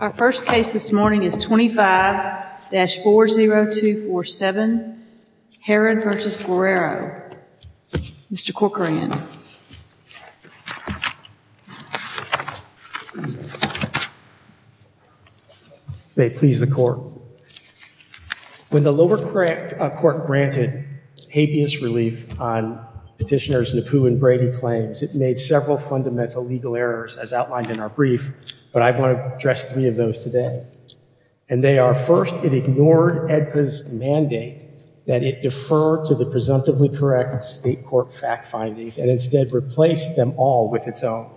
Our first case this morning is 25-40247, Herod v. Guerrero. Mr. Corcoran. May it please the court. When the lower court granted habeas relief on petitioners Nepu and Brady claims, it made several fundamental legal errors as outlined in our brief, but I want to address three of those today. And they are, first, it ignored EDPA's mandate that it defer to the presumptively correct state court fact findings and instead replaced them all with its own.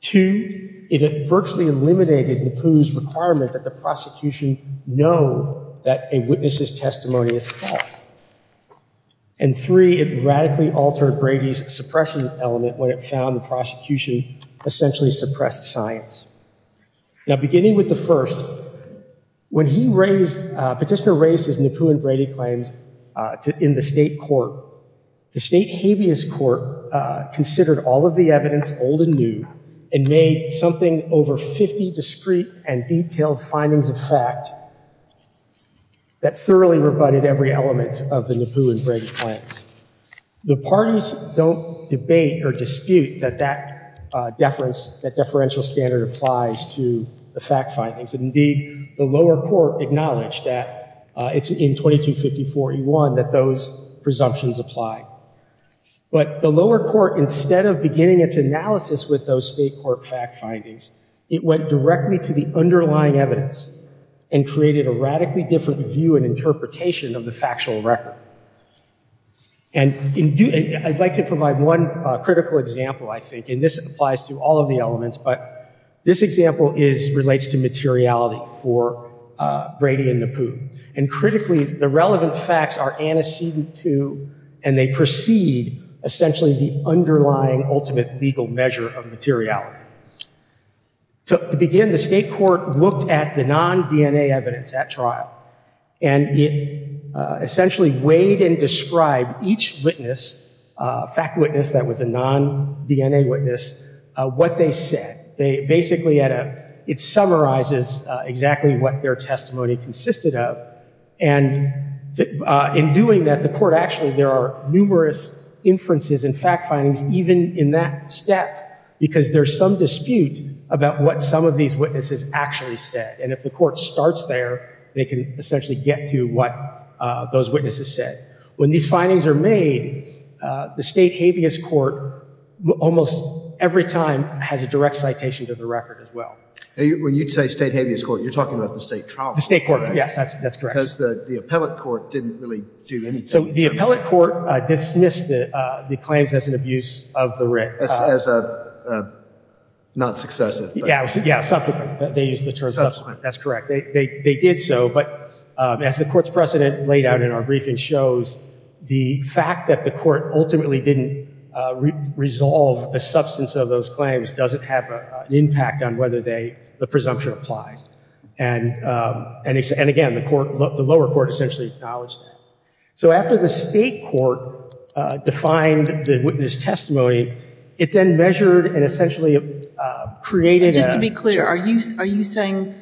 Two, it virtually eliminated Nepu's requirement that the prosecution know that a witness's testimony is false. And three, it radically altered Brady's suppression element when it found the prosecution essentially suppressed science. Now beginning with the first, when he raised, petitioner raised his Nepu and Brady claims in the state court, the state habeas court considered all of the evidence old and new and made something over 50 discreet and detailed findings of fact that thoroughly rebutted every element of the Nepu and Brady claim. The dispute that that deference, that deferential standard applies to the fact findings. Indeed, the lower court acknowledged that it's in 2254E1 that those presumptions apply. But the lower court, instead of beginning its analysis with those state court fact findings, it went directly to the underlying evidence and created a radically different view and interpretation of the factual record. And I'd like to provide one critical example, I think, and this applies to all of the elements, but this example is relates to materiality for Brady and Nepu. And critically, the relevant facts are antecedent to and they precede essentially the underlying ultimate legal measure of materiality. To begin, the state court looked at the non-DNA evidence at trial and it essentially weighed and described each witness, fact witness that was a non-DNA witness, what they said. They basically had a, it summarizes exactly what their testimony consisted of. And in doing that, the court actually, there are numerous inferences and fact findings, even in that step, because there's some dispute about what some of these witnesses actually said. And if the court starts there, they can essentially get to what those witnesses said. When these findings are made, the state habeas court, almost every time, has a direct citation to the record as well. When you say state habeas court, you're talking about the state trial court, The state court, yes, that's correct. Because the appellate court didn't really do anything. So the appellate court dismissed the claims as an abuse of the writ. As a, not successive. Yeah, they used the term subsequent, that's correct. They did so, but as the court's precedent laid out in our briefing shows, the fact that the court ultimately didn't resolve the substance of those claims doesn't have an impact on whether the presumption applies. And again, the lower court essentially acknowledged that. So after the state court defined the witness testimony, it then measured and essentially created a And just to be clear, are you, are you saying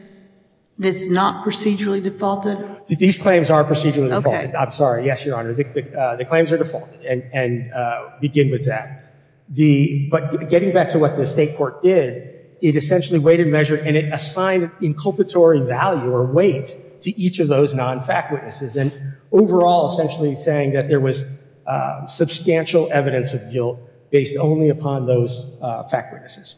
that's not procedurally defaulted? These claims are procedurally defaulted. I'm sorry. Yes, Your Honor. The claims are defaulted and begin with that. The, but getting back to what the state court did, it essentially weighted measure and it assigned inculpatory value or weight to each of those non-fact witnesses. And overall, essentially saying that there was substantial evidence of guilt based only upon those fact witnesses.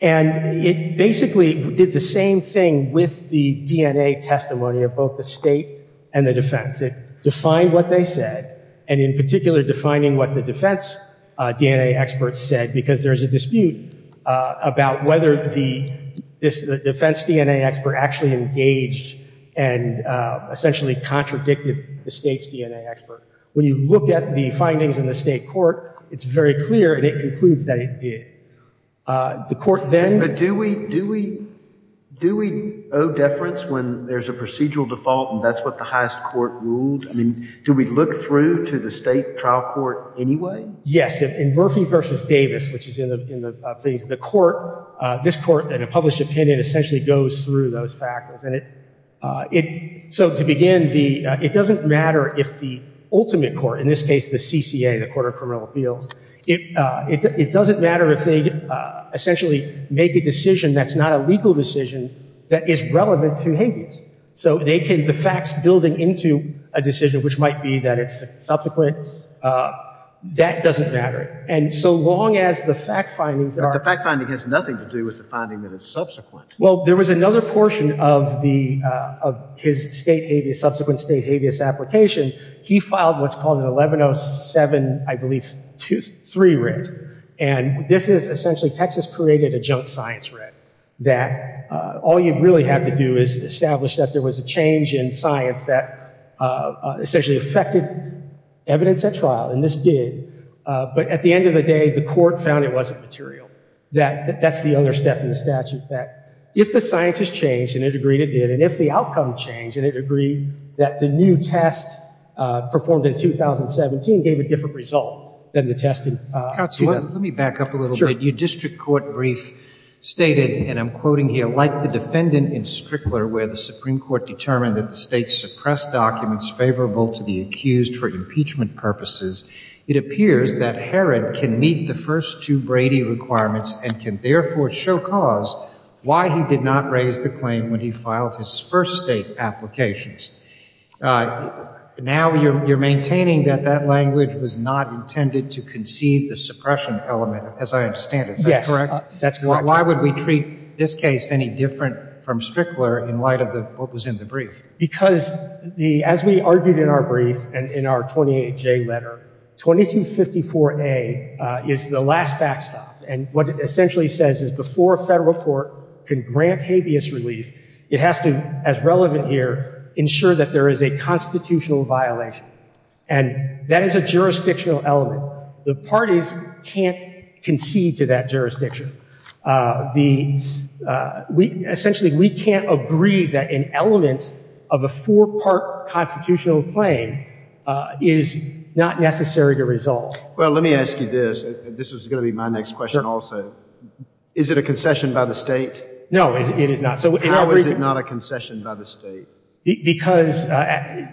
And it basically did the same thing with the DNA testimony of both the state and the defense. It defined what they said. And in particular, defining what the defense DNA experts said, because there's a dispute about whether the, this defense DNA expert actually engaged and essentially contradicted the state's DNA expert. When you look at the findings in the state court, it's very clear and it concludes that it did. The court then But do we, do we, do we owe deference when there's a procedural default and that's what the highest court ruled? I mean, do we look through to the state trial court anyway? Yes. In Murphy v. Davis, which is in the, in the, the court, this court in a way goes through those factors. And it, it, so to begin the, it doesn't matter if the ultimate court, in this case, the CCA, the Court of Criminal Appeals, it, it doesn't matter if they essentially make a decision that's not a legal decision that is relevant to habeas. So they can, the facts building into a decision, which might be that it's subsequent, that doesn't matter. And so long as the fact findings are But the fact finding has nothing to do with the finding that is subsequent. Well, there was another portion of the, of his state habeas, subsequent state habeas application. He filed what's called an 1107, I believe, 2, 3 writ. And this is essentially, Texas created a junk science writ, that all you really have to do is establish that there was a change in science that essentially affected evidence at trial. And this did. But at the end of the day, the court found it wasn't material. That, that's the other step in the statute, that if the science has changed, and it agreed it did, and if the outcome changed, and it agreed that the new test performed in 2017 gave a different result than the tested Counselor, let me back up a little bit. Sure. Your district court brief stated, and I'm quoting here, like the defendant in Strickler, where the Supreme Court determined that the state suppressed documents favorable to the accused for impeachment purposes, it appears that Herod can meet the first two Brady requirements and can therefore show cause why he did not raise the claim when he filed his first state applications. Now you're, you're maintaining that that language was not intended to conceive the suppression element, as I understand it. Yes. Is that correct? That's correct. Why would we treat this case any different from Strickler in light of the, what was in the brief? Because the, as we argued in our brief, and in our 28J letter, 2254A is the last backstop, and what it essentially says is before a federal court can grant habeas relief, it has to, as relevant here, ensure that there is a constitutional violation. And that is a jurisdictional element. The parties can't concede to that jurisdiction. The, we, essentially, we can't agree that an element of a four-part constitutional claim is not necessary to result. Well, let me ask you this. This is going to be my next question also. Is it a concession by the state? No, it is not. So how is it not a concession by the state? Because the,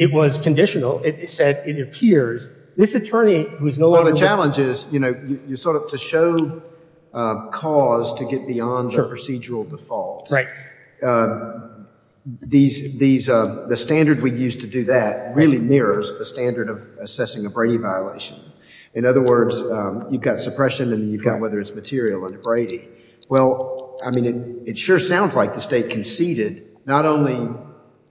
it was conditional. It said, it appears, this attorney, who is no longer... Well, the challenge is, you know, you sort of, to show cause to get beyond the procedural default. Right. These, these, the standard we used to do that really mirrors the standard of assessing a Brady violation. In other words, you've got suppression, and then you've got whether it's material under Brady. Well, I mean, it sure sounds like the state conceded not only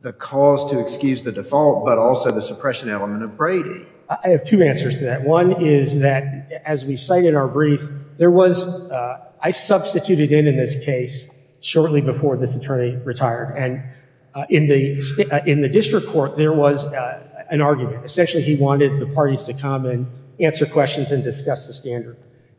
the cause to excuse the default, but also the suppression element of Brady. I have two answers to that. One is that, as we cite in our brief, there was, I substituted in in this case shortly before this attorney retired. And in the, in the district court, there was an argument. Essentially, he wanted the parties to come and answer questions and discuss the standard.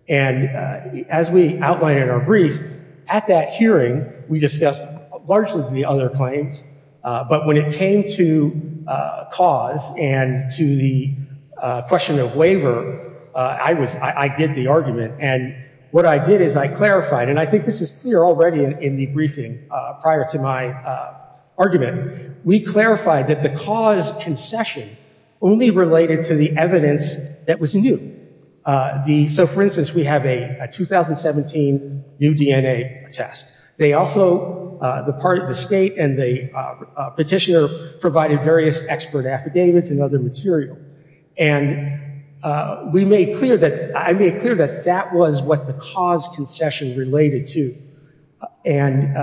And as we outlined in our brief, at that hearing, we discussed largely the other claims. But when it came to cause and to the question of waiver, I was, I did the argument. And what I did is I clarified, and I think this is clear already in the briefing prior to my argument, we clarified that the cause concession only related to the evidence that was new. The, so for instance, we have a 2017 new DNA test. They also, the part of the state and the petitioner provided various expert affidavits and other material. And we made clear that, I made clear that that was what the cause concession related to. And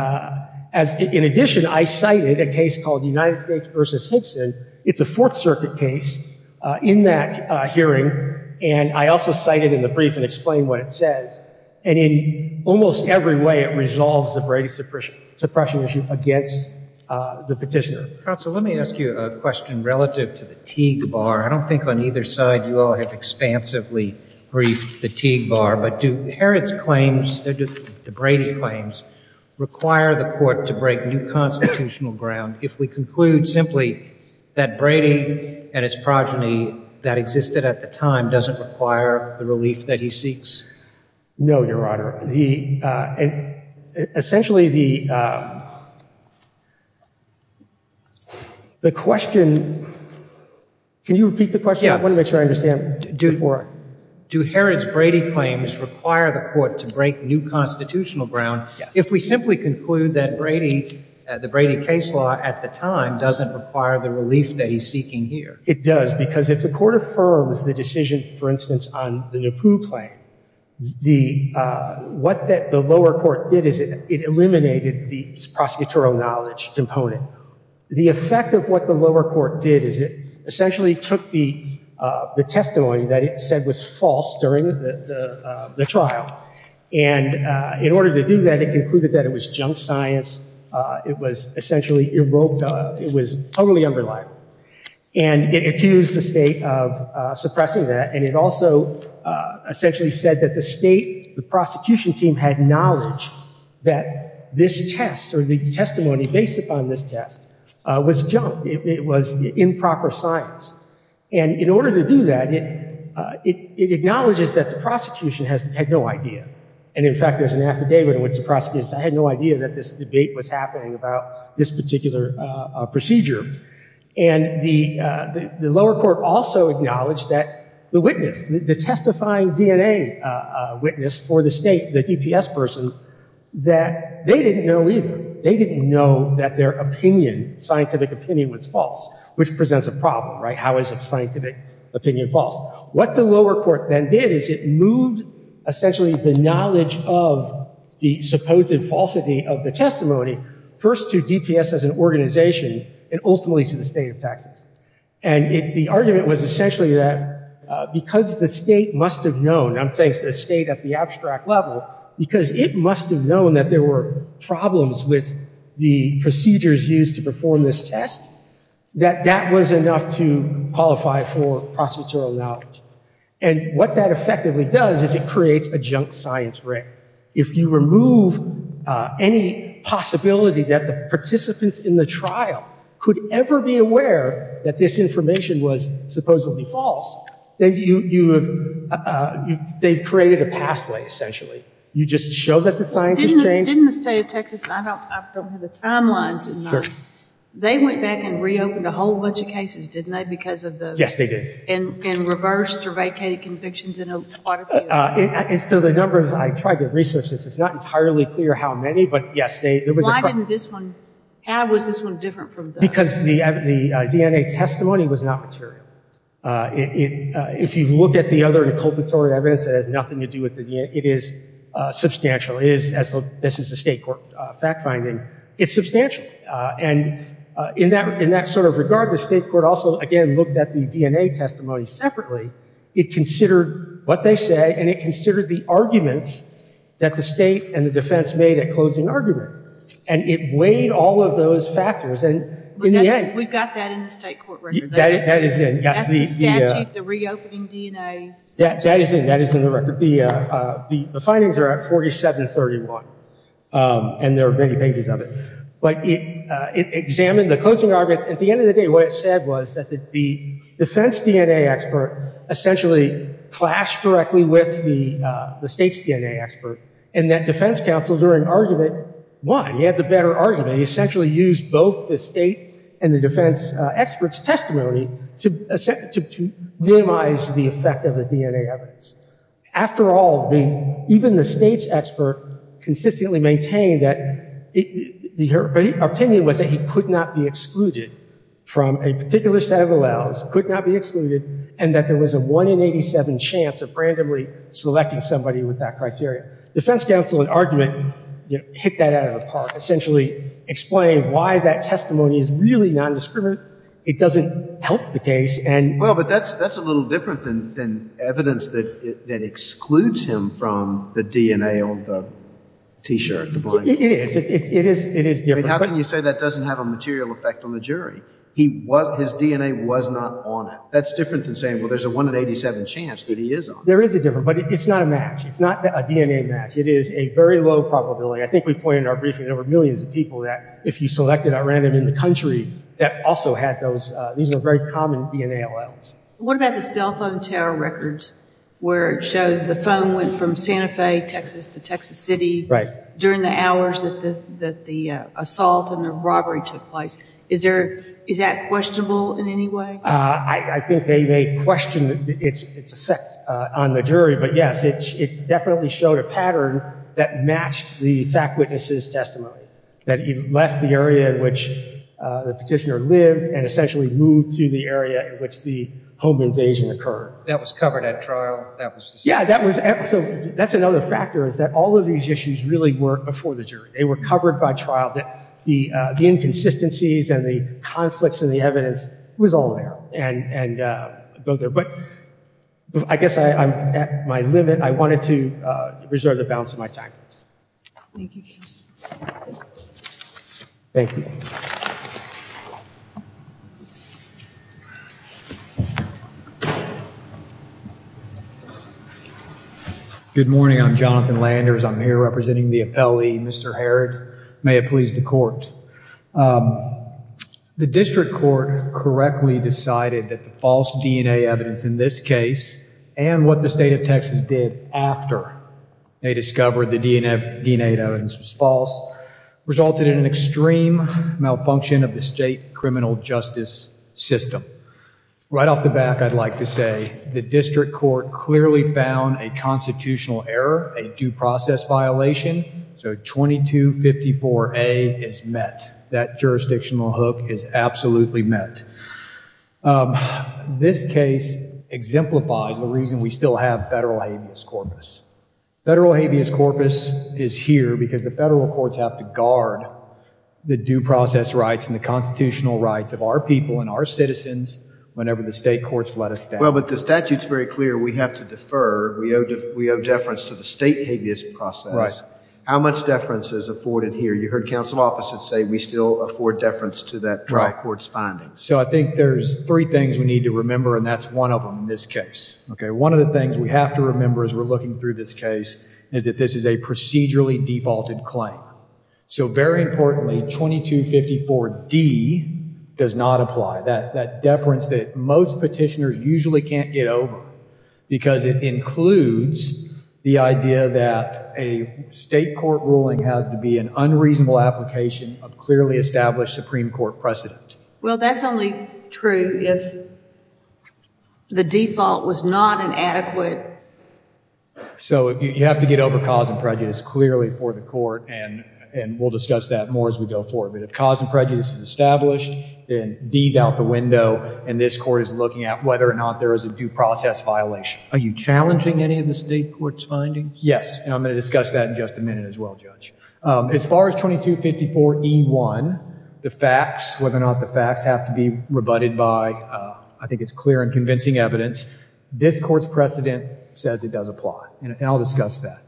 as, in addition, I cited a case called the United States versus Higson. It's a Fourth Circuit case. In that hearing, and I also cited in the brief and explained what it says. And in almost every way, it resolves the Brady suppression, suppression issue against the petitioner. Counsel, let me ask you a question relative to the Teague Bar. I don't think on either side you all have expansively briefed the Teague Bar. But do Herod's claims, the Brady claims, require the court to break new constitutional ground if we conclude simply that Brady and its progeny that existed at the time doesn't require the relief that he seeks? No, Your Honor. The, essentially the, the question, can you repeat the question? I want to make sure I understand. Do Herod's Brady claims require the court to break new constitutional ground if we simply conclude that Brady, the Brady case law at the time, doesn't require the relief that he's seeking here? It does because if the court affirms the decision, for the Pooh claim, the, what that the lower court did is it, it eliminated the prosecutorial knowledge component. The effect of what the lower court did is it essentially took the, the testimony that it said was false during the, the trial. And in order to do that, it concluded that it was junk science. It was essentially, it was totally underlined. And it accused the state of suppressing that, and it also essentially said that the state, the prosecution team, had knowledge that this test, or the testimony based upon this test, was junk. It was improper science. And in order to do that, it, it, it acknowledges that the prosecution has, had no idea. And in fact, there's an affidavit in which the prosecution said, I had no idea that this debate was happening about this particular procedure. And the, the lower court also acknowledged that the witness, the testifying DNA witness for the state, the DPS person, that they didn't know either. They didn't know that their opinion, scientific opinion, was false, which presents a problem, right? How is a scientific opinion false? What the lower court then did is it moved essentially the knowledge of the supposed falsity of the testimony first to DPS as an organization, and ultimately to the state of Texas. And it, the argument was essentially that because the state must have known, I'm saying the state at the abstract level, because it must have known that there were problems with the procedures used to perform this test, that that was enough to qualify for prosecutorial knowledge. And what that effectively does is it creates a junk science ring. If you remove any possibility that the participants in the trial could ever be aware that this information was supposedly false, then you, you have, they've created a pathway, essentially. You just show that the science has changed. Didn't the state of Texas, I don't, I don't have the timelines in mind, they went back and reopened a whole bunch of cases, didn't they, because of the... Yes, they did. And, and reversed or vacated convictions in a lot of cases. And so the numbers, I tried to research this, it's not entirely clear how many, but yes, they, there was a... Why didn't this one, how was this one different from the... Because the DNA testimony was not material. If you look at the other inculpatory evidence that has nothing to do with the DNA, it is substantial. It is, as this is a state court fact-finding, it's substantial. And in that, in that sort of regard, the state court also, again, looked at the DNA testimony separately. It considered what they say, and it considered the arguments that the state and the defense made at closing argument. And it weighed all of those factors, and in the end... We've got that in the state court record. That is in, yes. That's the statute, the reopening DNA statute. That is in, that is in the record. The, the findings are at 4731, and there are many pages of it. But it examined the closing argument. At the end of the day, what it said was that the defense DNA expert essentially clashed directly with the state's DNA expert, and that defense counsel, during argument, won. You had the better argument. You essentially used both the state and the defense expert's testimony to minimize the effect of the DNA evidence. After all, the, even the state's expert consistently maintained that the, her opinion was that he could not be excluded from a particular set of alleles, could not be excluded, and that there was a 1 in 87 chance of randomly selecting somebody with that criteria. Defense counsel, in argument, you know, hit that out of the park. Essentially explained why that testimony is really nondiscriminate. It doesn't help the case, and... Well, but that's, that's a little different than, than evidence that, that excludes him from the DNA on the t-shirt, the blind... It is, it is, it is different. But how can you say that doesn't have a material effect on the jury? He was, his DNA was not on it. That's different than saying, well, there's a 1 in 87 chance that he is on it. There is a difference, but it's not a match. It's not a DNA match. It is a very low probability. I think we pointed in our briefing, there were millions of people that, if you selected at random in the country, that also had those, these are very common DNA alleles. What about the cell phone tower records, where it shows the phone went from Santa Fe, Texas, to Texas City... Right. ...during the hours that the, that the assault and the robbery took place? Is there, is that questionable in any way? I, I think they may question its, its effect on the jury, but yes, it, it definitely showed a pattern that matched the fact witness's testimony. That he left the area in which the petitioner lived and essentially moved to the area in which the home invasion occurred. That was covered at trial? That was... Yeah, that was, so that's another factor is that all of these issues really weren't before the jury. They were covered by trial. The, the, the inconsistencies and the conflicts in the evidence was all there and, and both there. But I guess I, I'm at my limit. I wanted to reserve the balance of my time. Thank you, counsel. Thank you. Good morning. I'm Jonathan Landers. I'm here representing the appellee, Mr. Harrod. May it please the court. The district court correctly decided that the false DNA evidence in this case and what the state of Texas did after they discovered the DNA, DNA evidence was false, resulted in an extreme malfunction of the state criminal justice system. Right off the bat, I'd like to say the district court clearly found a constitutional error, a due process violation. So 2254A is met. That jurisdictional hook is absolutely met. This case exemplifies the reason we still have federal habeas corpus. Federal habeas corpus is here because the federal courts have to guard the due process rights and the constitutional rights of our people and our citizens whenever the state courts let us down. Well, but the statute's very clear. We have to defer. We owe, we owe deference to the state habeas process. How much deference is afforded here? You heard counsel opposite say we still afford deference to that trial court's findings. So I think there's three things we need to remember and that's one of them in this case. Okay. One of the things we have to remember as we're looking through this case is that this is a procedurally defaulted claim. So very importantly, 2254D does not apply. That, that deference that most petitioners usually can't get over because it includes the idea that a state court ruling has to be an unreasonable application of clearly established Supreme Court precedent. Well, that's only true if the default was not an adequate. So you have to get over cause and prejudice clearly for the court and, and we'll discuss that more as we go forward. But if cause and prejudice is established, then D's out the window and this court is looking at whether or not there is a due process violation. Are you challenging any of the state court's findings? Yes. And I'm going to discuss that in just a minute as well, judge. Um, as far as 2254E1, the facts, whether or not the facts have to be rebutted by, uh, I think it's clear and convincing evidence. This court's precedent says it does apply. And I'll discuss that.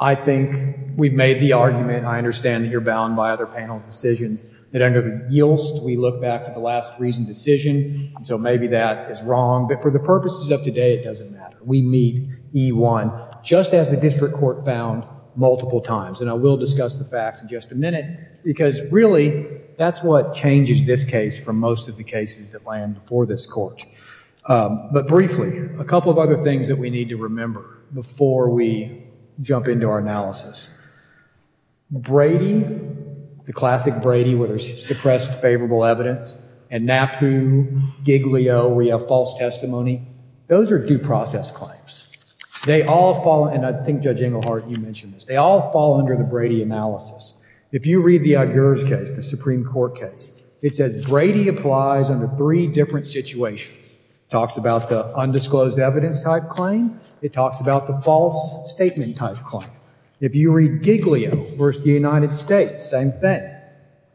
I think we've made the argument. I understand that you're bound by other panel's decisions that under the YILST, we look back to the last reasoned decision. So maybe that is wrong, but for the purposes of today, it doesn't matter. We meet E1 just as the district court found multiple times. And I will discuss the facts in just a minute because really that's what changes this case from most of the cases that land before this court. Um, but briefly, a couple of other things that we need to remember before we jump into our analysis. Brady, the classic Brady, whether it's suppressed favorable evidence and NAPU, Giglio, we have false testimony. Those are due process claims. They all fall. And I think judge Engelhardt, you mentioned this. They all fall under the Brady analysis. If you read the Iger's case, the Supreme court case, it says Brady applies under three different situations. Talks about the undisclosed evidence type claim. It talks about the false statement type claim. If you read Giglio versus the United States, same thing.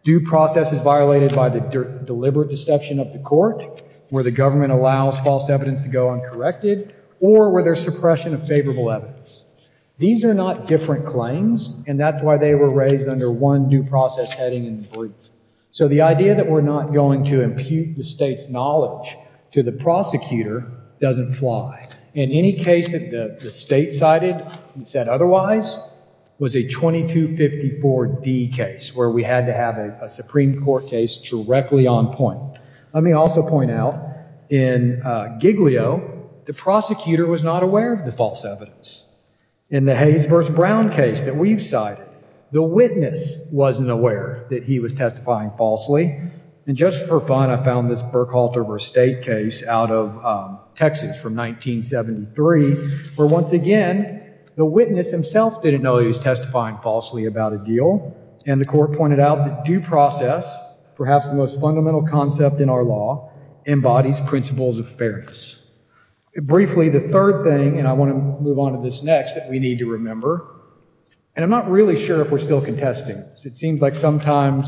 Due process is violated by the deliberate deception of the court where the government allows false evidence to go uncorrected or where there's suppression of favorable evidence. These are not different claims. And that's why they were raised under one due process heading in the brief. So the idea that we're not going to impute the state's knowledge to the prosecutor doesn't fly. In any case that the state cited, you said otherwise, was a 2254 D case, where we had to have a Supreme court case directly on point. Let me also point out in, uh, Giglio, the prosecutor was not aware of the false evidence. In the Hayes versus Brown case that we've cited, the witness wasn't aware that he was testifying falsely. And just for fun, I found this Burkehalter versus State case out of, um, Texas from 1973, where once again, the witness himself didn't know he was testifying falsely about a deal and the court pointed out that due process, perhaps the most fundamental concept in our law embodies principles of fairness. Briefly, the third thing, and I want to move on to this next, that we need to remember, and I'm not really sure if we're still contesting. It seems like sometimes,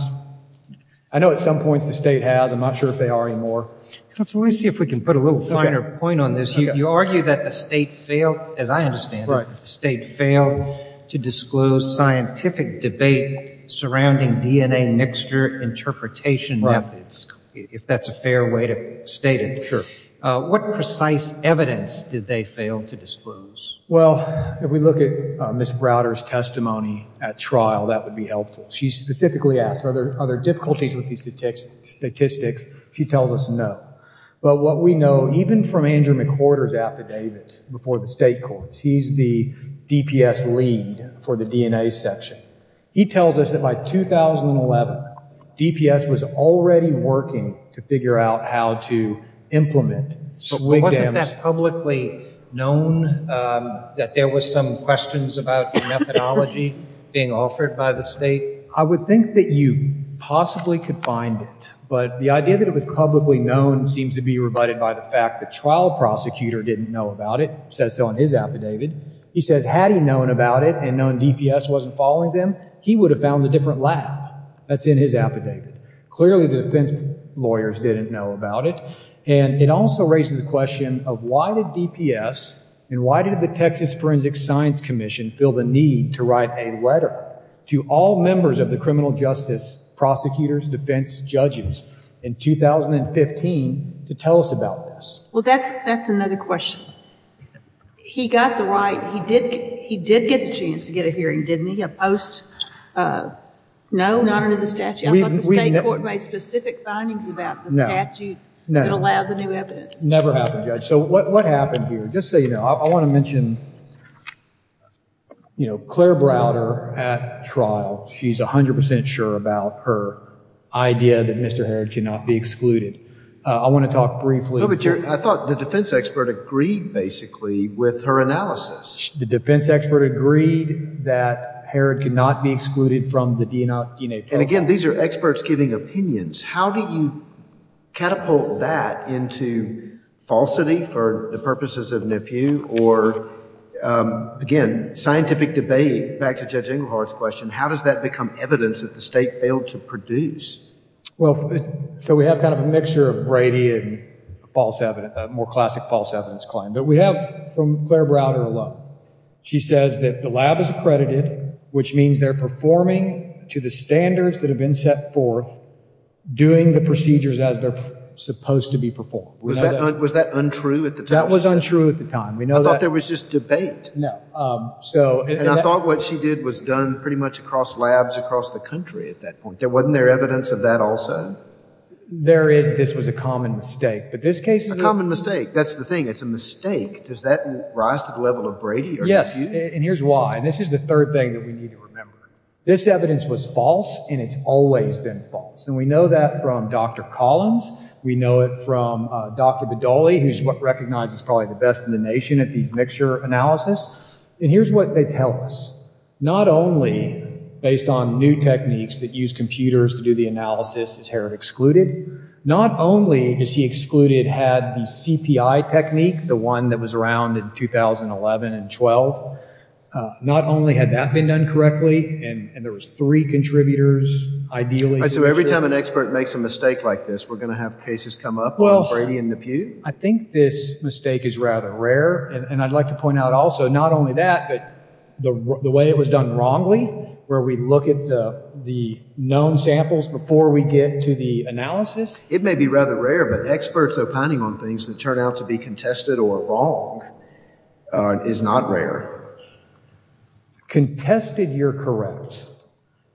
I know at some points the state has, I'm not sure if they are anymore. Counsel, let me see if we can put a little finer point on this. You argue that the state failed, as I understand it, the state failed to disclose scientific debate surrounding DNA mixture interpretation methods, if that's a fair way to state it. What precise evidence did they fail to disclose? Well, if we look at Ms. Browder's testimony at trial, that would be helpful. She specifically asked, are there difficulties with these statistics? She tells us no, but what we know, even from Andrew McWhorter's affidavit before the state courts, he's the DPS lead for the DNA section. He tells us that by 2011, DPS was already working to figure out how to implement SWIG damage. But wasn't that publicly known that there was some questions about the methodology being offered by the state? I would think that you possibly could find it, but the idea that it was publicly known seems to be rebutted by the fact the trial prosecutor didn't know about it, says so in his affidavit. He says, had he known about it and known DPS wasn't following them, he would have found a different lab. That's in his affidavit. Clearly the defense lawyers didn't know about it. And it also raises the question of why did DPS and why did the Texas Forensic Science Commission feel the need to write a letter to all members of the criminal justice prosecutors, defense judges, in 2015 to tell us about this? Well, that's another question. He got the right, he did get a chance to get a hearing, didn't he? Post, uh, no, not under the statute. I thought the state court made specific findings about the statute that allowed the new evidence. Never happened, Judge. So what, what happened here? Just so you know, I want to mention, you know, Claire Browder at trial, she's a hundred percent sure about her idea that Mr. Harrod cannot be excluded. I want to talk briefly. I thought the defense expert agreed basically with her analysis. The defense expert agreed that Harrod could not be excluded from the DNA trial. And again, these are experts giving opinions. How do you catapult that into falsity for the purposes of NEPU or, um, again, scientific debate, back to Judge Ingleheart's question, how does that become evidence that the state failed to produce? Well, so we have kind of a mixture of Brady and false evidence, more classic false evidence claim that we have from Claire Browder alone. She says that the lab is accredited, which means they're performing to the standards that have been set forth doing the procedures as they're supposed to be performed. Was that untrue at the time? That was untrue at the time. We know that there was just debate. No. Um, so, and I thought what she did was done pretty much across labs across the country. At that point, there wasn't there evidence of that also? There is. This was a common mistake, but this case, a common mistake. That's the thing. It's a mistake. Does that rise to the level of Brady? Yes. And here's why. And this is the third thing that we need to remember. This evidence was false and it's always been false. And we know that from Dr. Collins. We know it from Dr. Badoli, who's what recognized as probably the best in the nation at these mixture analysis. And here's what they tell us. Not only based on new techniques that use computers to do the analysis, is Herod excluded? Not only is he excluded, had the CPI technique, the one that was around in 2011 and 12, not only had that been done correctly and there was three contributors, ideally. So every time an expert makes a mistake like this, we're going to have cases come up on Brady and Nepute? I think this mistake is rather rare. And I'd like to point out also, not only that, but the way it was done wrongly, where we look at the known samples before we get to the analysis. It may be rather rare, but experts opining on things that turn out to be contested or wrong is not rare. Contested, you're correct.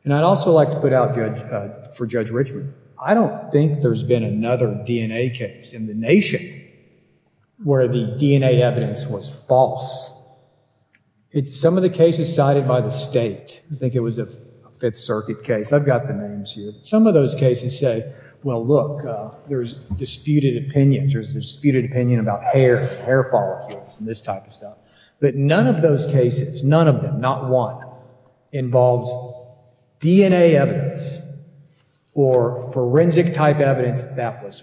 And I'd also like to put out for Judge Richmond. I don't think there's been another DNA case in the nation where the DNA evidence was false. Some of the cases cited by the state, I think it was a fifth circuit case. I've got the names here. Some of those cases say, well, look, there's disputed opinions. There's a disputed opinion about hair, hair follicles and this type of stuff. But none of those cases, none of them, not one involves DNA evidence or forensic type evidence that that was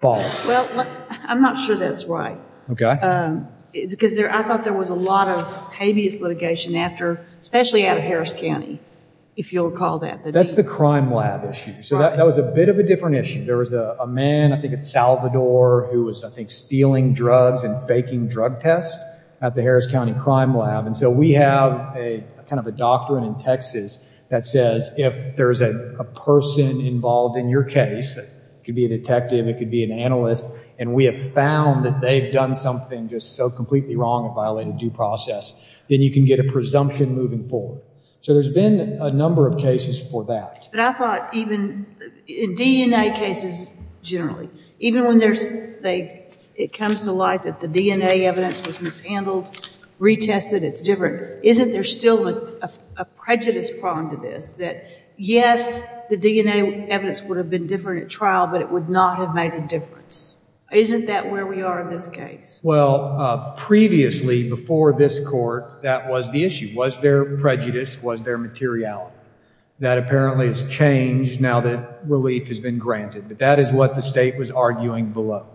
false. Well, I'm not sure that's right. Okay. Because there, I thought there was a lot of habeas litigation after, especially out of Harris County, if you'll recall that. That's the crime lab issue. So that was a bit of a different issue. There was a man, I think it's Salvador, who was I think stealing drugs and faking drug tests at the Harris County crime lab. And so we have a kind of a doctrine in Texas that says if there's a person involved in your case, it could be a detective, it could be an analyst. And we have found that they've done something just so completely wrong and violated due process, then you can get a presumption moving forward. So there's been a number of cases for that. But I thought even in DNA cases, generally, even when it comes to life that the DNA evidence was mishandled, retested, it's different. Isn't there still a prejudice problem to this that yes, the DNA evidence would have been different at trial, but it would not have made a difference. Isn't that where we are in this case? Well, previously, before this court, that was the issue. Was there prejudice? Was there materiality? That apparently has changed now that relief has been granted, but that is what the state was arguing below.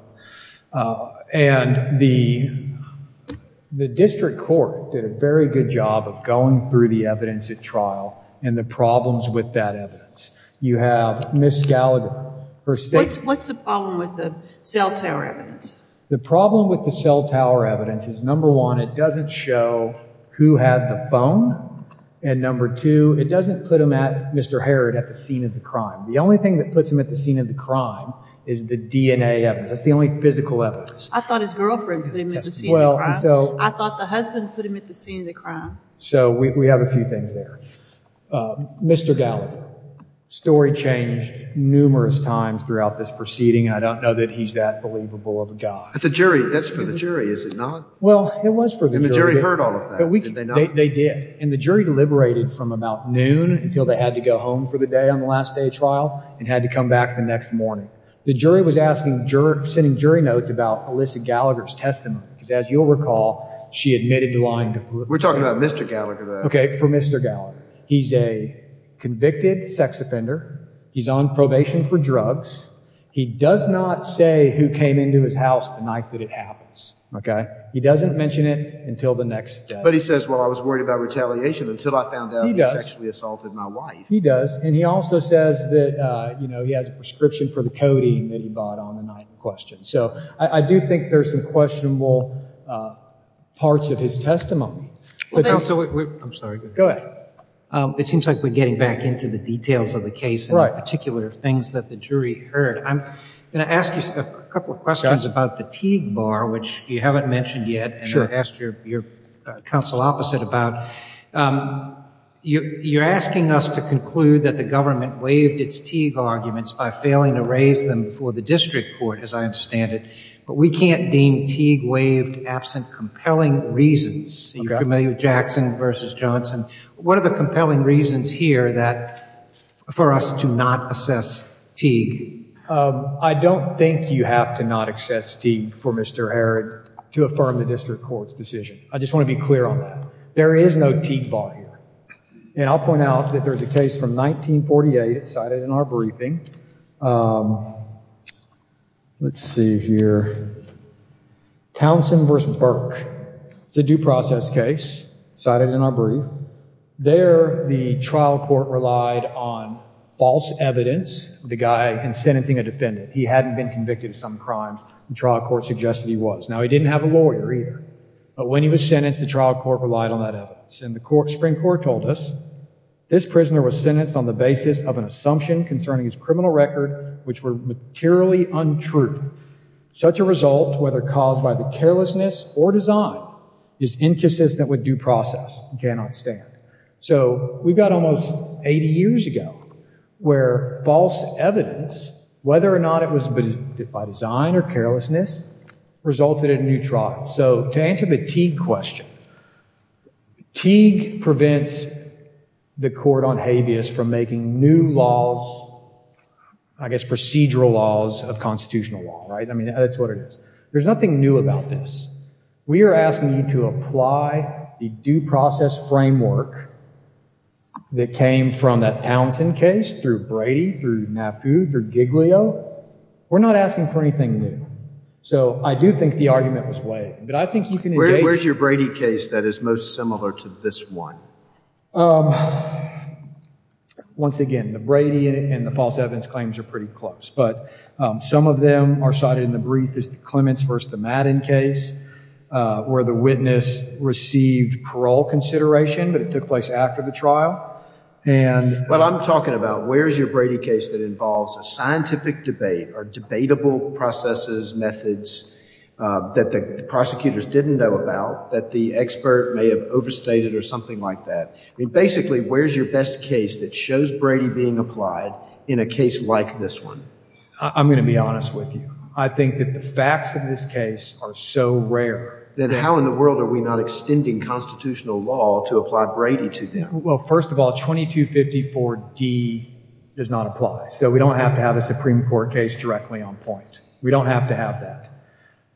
And the district court did a very good job of going through the evidence at trial and the problems with that evidence. You have Ms. Gallagher, her statement. What's the problem with the cell tower evidence? The problem with the cell tower evidence is number one, it doesn't show who had the phone. And number two, it doesn't put him at Mr. Harrod at the scene of the crime. The only thing that puts him at the scene of the crime is the DNA evidence. That's the only physical evidence. I thought his girlfriend put him at the scene of the crime. I thought the husband put him at the scene of the crime. So we have a few things there. Mr. Gallagher, story changed numerous times throughout this proceeding. I don't know that he's that believable of a guy. But the jury, that's for the jury, is it not? Well, it was for the jury. And the jury heard all of that, did they not? They did. And the jury deliberated from about noon until they had to go home for the day on the last day of trial and had to come back the next morning. The jury was asking, sending jury notes about Alyssa Gallagher's testimony, because as you'll recall, she admitted to lying. We're talking about Mr. Gallagher. OK, for Mr. Gallagher. He's a convicted sex offender. He's on probation for drugs. He does not say who came into his house the night that it happens. OK, he doesn't mention it until the next day. But he says, well, I was worried about retaliation until I found out he sexually assaulted my wife. He does. And he also says that, you know, he has a prescription for the codeine that he bought on the night in question. So I do think there's some questionable parts of his testimony. Well, I'm sorry. Go ahead. It seems like we're getting back into the details of the case. Particular things that the jury heard. I'm going to ask you a couple of questions about the Teague bar, which you haven't mentioned yet. And I asked your counsel opposite about you. You're asking us to conclude that the government waived its Teague arguments by failing to raise them for the district court, as I understand it. But we can't deem Teague waived absent compelling reasons. You're familiar with Jackson versus Johnson. What are the compelling reasons here that for us to not assess Teague? I don't think you have to not assess Teague for Mr. Harrod to affirm the district court's decision. I just want to be clear on that. There is no Teague bar here. And I'll point out that there's a case from 1948 cited in our briefing. Let's see here. Townsend versus Burke. It's a due process case cited in our brief. There, the trial court relied on false evidence. The guy in sentencing a defendant. He hadn't been convicted of some crimes. The trial court suggested he was. Now, he didn't have a lawyer either. But when he was sentenced, the trial court relied on that evidence. And the Supreme Court told us this prisoner was sentenced on the basis of an assumption concerning his criminal record, which were materially untrue. Such a result, whether caused by the carelessness or design, is inconsistent with due process and cannot stand. So we've got almost 80 years ago where false evidence, whether or not it was by design or carelessness, resulted in a new trial. So to answer the Teague question, Teague prevents the court on habeas from making new laws, I guess, procedural laws of constitutional law, right? I mean, that's what it is. There's nothing new about this. We are asking you to apply the due process framework that came from that Townsend case through Brady, through Maffu, through Giglio. We're not asking for anything new. So I do think the argument was weighed. But I think you can- Where's your Brady case that is most similar to this one? Once again, the Brady and the false evidence claims are pretty close, but some of them are cited in the brief. There's the Clements versus the Madden case, where the witness received parole consideration, but it took place after the trial. And- Well, I'm talking about where's your Brady case that involves a scientific debate or debatable processes, methods that the prosecutors didn't know about, that the expert may have overstated or something like that. I mean, basically, where's your best case that shows Brady being applied in a case like this one? I'm going to be honest with you. I think that the facts of this case are so rare. Then how in the world are we not extending constitutional law to apply Brady to them? Well, first of all, 2254D does not apply. So we don't have to have a Supreme Court case directly on point. We don't have to have that.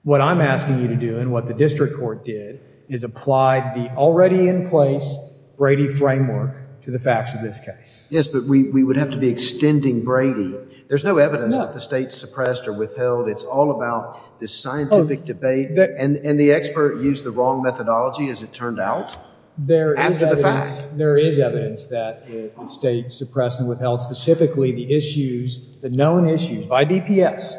What I'm asking you to do and what the district court did is apply the already in place Brady framework to the facts of this case. Yes, but we would have to be extending Brady. There's no evidence that the state suppressed or withheld. It's all about this scientific debate. And the expert used the wrong methodology, as it turned out. There is evidence that the state suppressed and withheld specifically the issues, the known issues by DPS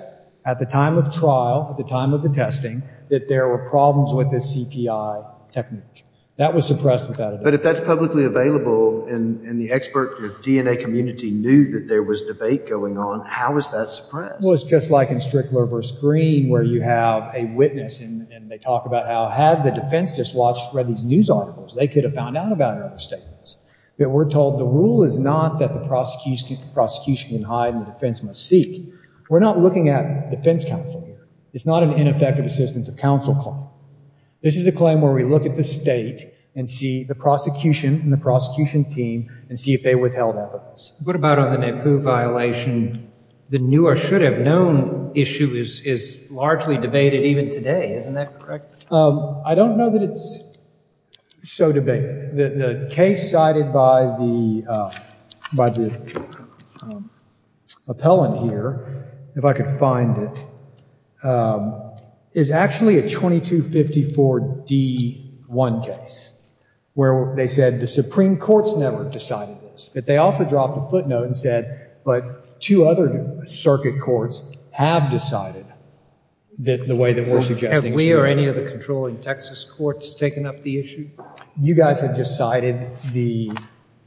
at the time of trial, at the time of the testing, that there were problems with the CPI technique that was suppressed. But if that's publicly available and the expert, the DNA community knew that there was debate going on, how is that suppressed? Well, it's just like in Strickler versus Green, where you have a witness and they talk about how had the defense just read these news articles, they could have found out about other statements. But we're told the rule is not that the prosecution can hide and the defense must seek. We're not looking at defense counsel here. It's not an ineffective assistance of counsel claim. This is a claim where we look at the state and see the prosecution and the prosecution team and see if they withheld evidence. What about on the Naipoo violation? The new or should have known issue is is largely debated even today. Isn't that correct? I don't know that it's so debated. The case cited by the by the appellant here, if I could find it, is actually a 2254 D1 case where they said the Supreme Court's never decided this. But they also dropped a footnote and said, but two other circuit courts have decided that the way that we're suggesting we or any of the controlling Texas courts taken up the issue. You guys have just cited the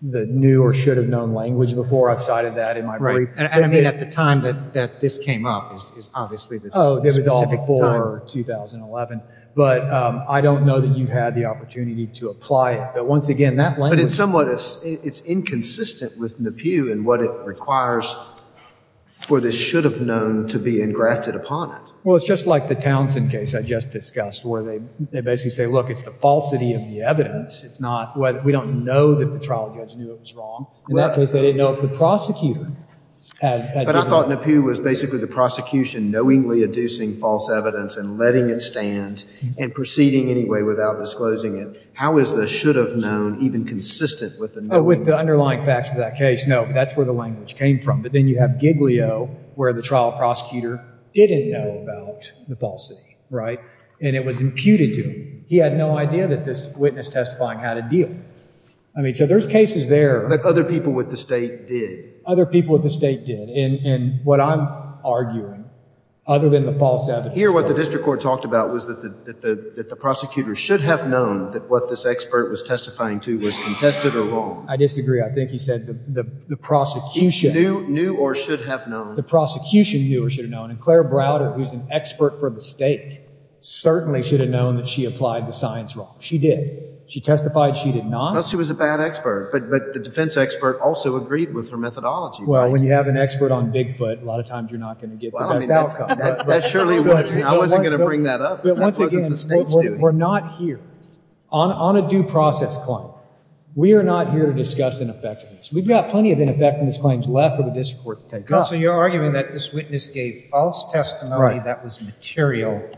the new or should have known language before I've cited that in my brief. And I mean, at the time that that this came up is obviously that it was all before 2011. But I don't know that you had the opportunity to apply it. Once again, that language is somewhat it's inconsistent with Naipoo and what it requires for this should have known to be engrafted upon it. Well, it's just like the Townsend case I just discussed, where they they basically say, look, it's the falsity of the evidence. It's not what we don't know that the trial judge knew it was wrong. In that case, they didn't know if the prosecutor had. But I thought Naipoo was basically the prosecution knowingly adducing false evidence and letting it stand and proceeding anyway without disclosing it. How is the should have known even consistent with the underlying facts of that case? No, that's where the language came from. But then you have Giglio, where the trial prosecutor didn't know about the falsity, right? And it was imputed to him. He had no idea that this witness testifying had a deal. I mean, so there's cases there. But other people with the state did. Other people with the state did. And what I'm arguing, other than the false evidence. Here, what the district court talked about was that the prosecutor should have known that what this expert was testifying to was contested or wrong. I disagree. I think he said the prosecution knew or should have known. The prosecution knew or should have known. And Claire Browder, who's an expert for the state, certainly should have known that she applied the science wrong. She did. She testified. She did not. She was a bad expert. But the defense expert also agreed with her methodology. Well, when you have an expert on Bigfoot, a lot of times you're not going to get the best outcome. That surely wasn't. I wasn't going to bring that up. But once again, we're not here on a due process claim. We are not here to discuss ineffectiveness. We've got plenty of ineffectiveness claims left for the district court to take up. So you're arguing that this witness gave false testimony that was material.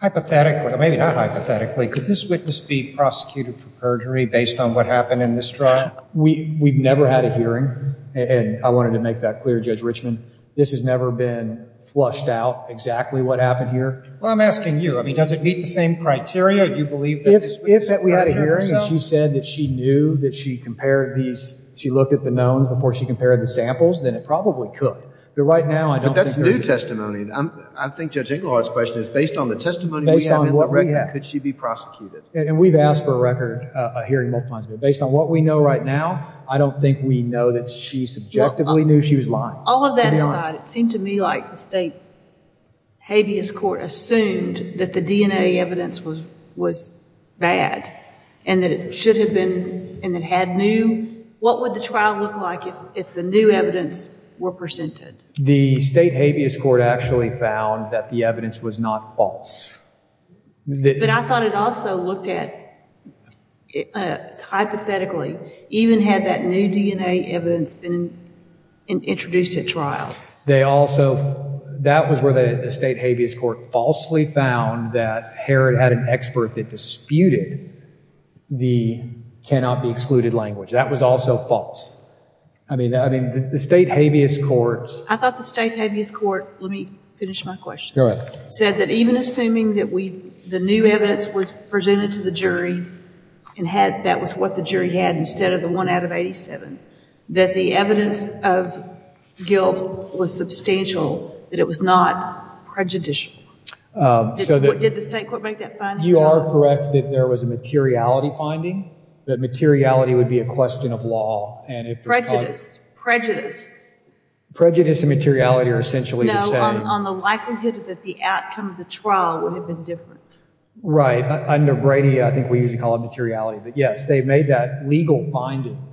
Hypothetically, maybe not hypothetically, could this witness be prosecuted for perjury based on what happened in this trial? We we've never had a hearing. And I wanted to make that clear. Judge Richman, this has never been flushed out exactly what happened here. Well, I'm asking you, I mean, does it meet the same criteria? Do you believe that this witness was a bad expert herself? If we had a hearing and she said that she knew that she compared these, she looked at the knowns before she compared the samples, then it probably could. But right now, I don't think. But that's new testimony. I think Judge Ingleheart's question is based on the testimony we have in the record, could she be prosecuted? And we've asked for a record, a hearing multiple times. But based on what we know right now, I don't think we know that she subjectively knew she was lying. All of that aside, it seemed to me like the state habeas court assumed that the DNA evidence was was bad and that it should have been and it had new. What would the trial look like if the new evidence were presented? The state habeas court actually found that the evidence was not false. But I thought it also looked at hypothetically, even had that new DNA evidence been introduced at trial. They also, that was where the state habeas court falsely found that Herod had an expert that disputed the cannot be excluded language. That was also false. I mean, I mean, the state habeas court. I thought the state habeas court, let me finish my question, said that even assuming that the new evidence was presented to the jury and had that was what the jury had instead of the one out of 87, that the evidence of guilt was substantial, that it was not prejudicial. So did the state court make that finding? You are correct that there was a materiality finding, that materiality would be a question of law. And if prejudice, prejudice, prejudice and materiality are essentially the same. On the likelihood that the outcome of the trial would have been different. Right. Under Brady, I think we usually call it materiality. But yes, they made that legal finding.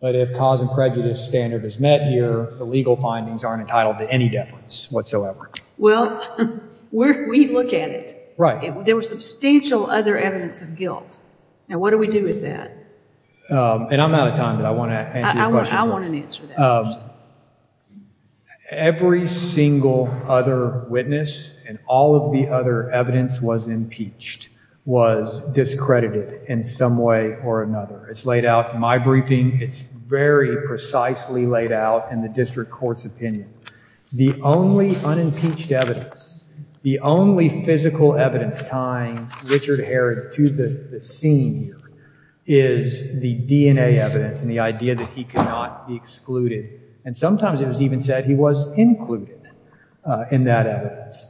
But if cause and prejudice standard is met here, the legal findings aren't entitled to any deference whatsoever. Well, we look at it. Right. There were substantial other evidence of guilt. Now, what do we do with that? And I'm out of time, but I want to answer your question first. I want an answer to that. Every single other witness and all of the other evidence was impeached, was discredited in some way or another. It's laid out in my briefing. It's very precisely laid out in the district court's opinion. The only unimpeached evidence, the only physical evidence tying Richard Herod to the scene is the DNA evidence and the idea that he could not be excluded. And sometimes it was even said he was included in that evidence.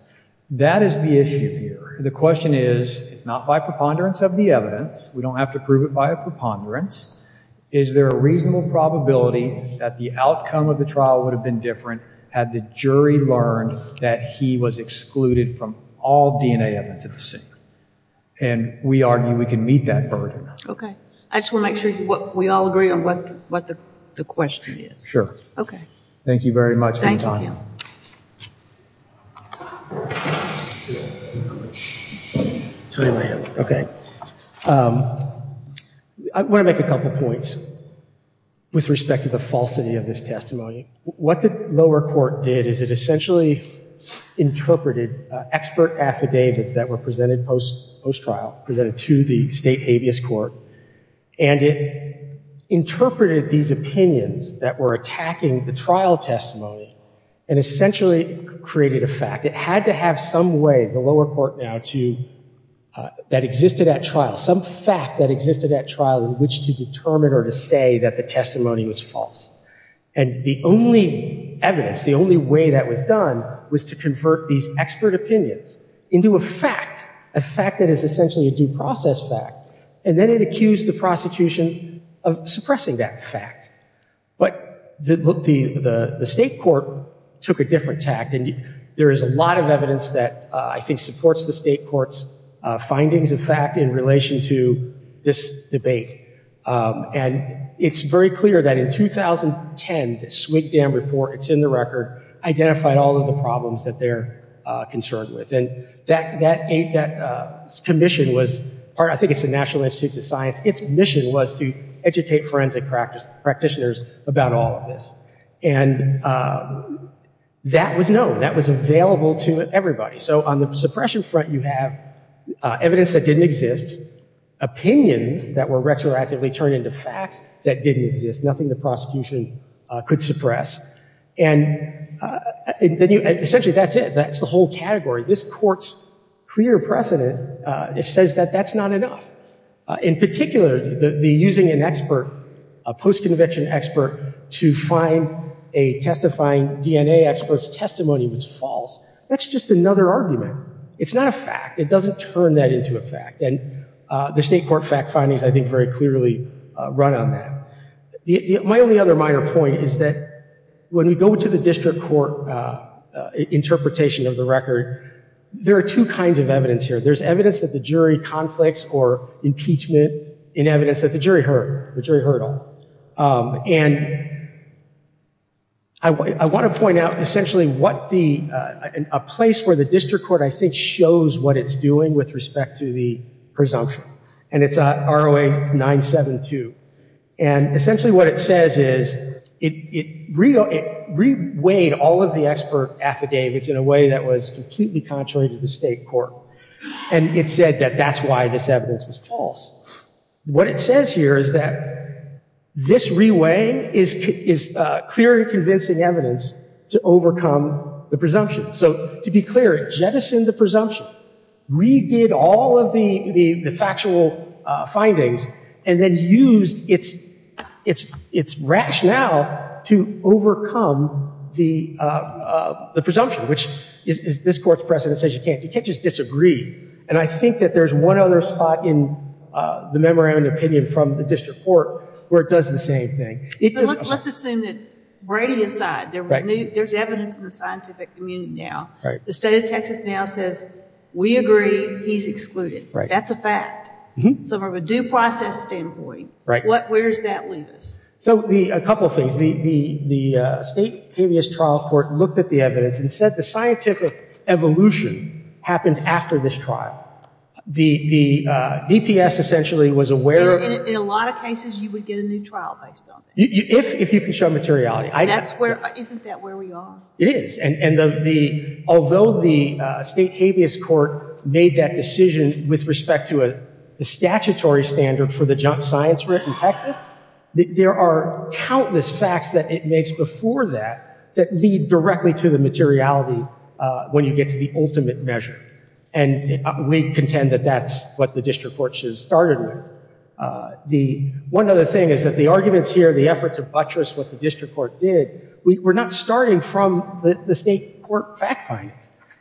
That is the issue here. The question is, it's not by preponderance of the evidence. We don't have to prove it by a preponderance. Is there a reasonable probability that the outcome of the trial would have been different had the jury learned that he was excluded from all DNA evidence at the scene? And we argue we can meet that burden. OK. I just want to make sure we all agree on what the question is. Sure. OK. Thank you very much for your time. Tony Lamb. OK. I want to make a couple of points with respect to the falsity of this testimony. What the lower court did is it essentially interpreted expert affidavits that were presented post post-trial, presented to the state habeas court. And it interpreted these opinions that were attacking the trial testimony and essentially created a fact. It had to have some way, the lower court now, that existed at trial, some fact that existed at trial in which to determine or to say that the testimony was false. And the only evidence, the only way that was done was to convert these expert opinions into a fact, a fact that is essentially a due process fact. And then it accused the prosecution of suppressing that fact. But the state court took a different tact. And there is a lot of evidence that I think supports the state court's findings of fact in relation to this debate. And it's very clear that in 2010, the Swigdam report, it's in the record, identified all of the problems that they're concerned with. And that commission was, I think it's the National Institute of Science, its mission was to educate forensic practitioners about all of this. And that was known, that was available to everybody. So on the suppression front, you have evidence that didn't exist, opinions that were retroactively turned into facts that didn't exist, nothing the prosecution could suppress. And essentially, that's it. That's the whole category. This court's clear precedent, it says that that's not enough. In particular, the using an expert, a post-conviction expert, to find a testifying DNA expert's testimony was false. That's just another argument. It's not a fact. It doesn't turn that into a fact. And the state court fact findings, I think, very clearly run on that. My only other minor point is that when we go to the district court interpretation of the record, there are two kinds of evidence here. There's evidence that the jury conflicts or impeachment in evidence that the jury heard, the jury heard on. And I want to point out essentially what the, a place where the district court, I think, shows what it's doing with respect to the presumption. And it's ROA 972. And essentially what it says is it reweighed all of the expert affidavits in a way that was completely contrary to the state court. And it said that that's why this evidence was false. What it says here is that this reweighing is clear and convincing evidence to overcome the presumption. So to be clear, it jettisoned the presumption, redid all of the factual findings, and then used its rationale to overcome the presumption, which this court's precedent says you can't. You can't just disagree. And I think that there's one other spot in the memorandum of opinion from the district court where it does the same thing. Let's assume that, Brady aside, there's evidence in the scientific community now, the state of Texas now says, we agree, he's excluded. That's a fact. So from a due process standpoint, where does that leave us? So a couple of things. The state previous trial court looked at the evidence and said the scientific evolution happened after this trial. The DPS essentially was aware of it. In a lot of cases, you would get a new trial based on it. If you can show materiality. And isn't that where we are? It is. And although the state habeas court made that decision with respect to a statutory standard for the junk science writ in Texas, there are countless facts that it makes before that that lead directly to the materiality when you get to the ultimate measure. And we contend that that's what the district court should have started with. The one other thing is that the arguments here, the efforts of buttress, what the district court did, we're not starting from the state court fact find.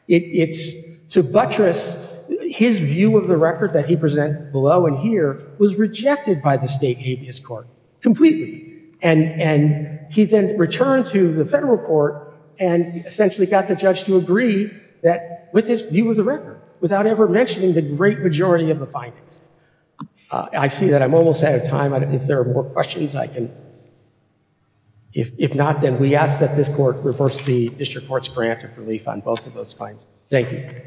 It's to buttress his view of the record that he presented below and here was rejected by the state habeas court completely. And he then returned to the federal court and essentially got the judge to agree that with his view of the record without ever mentioning the great majority of the findings. I see that I'm almost out of time. If there are more questions, I can, if not, then we ask that this court reverse the district court's grant of relief on both of those claims. Thank you.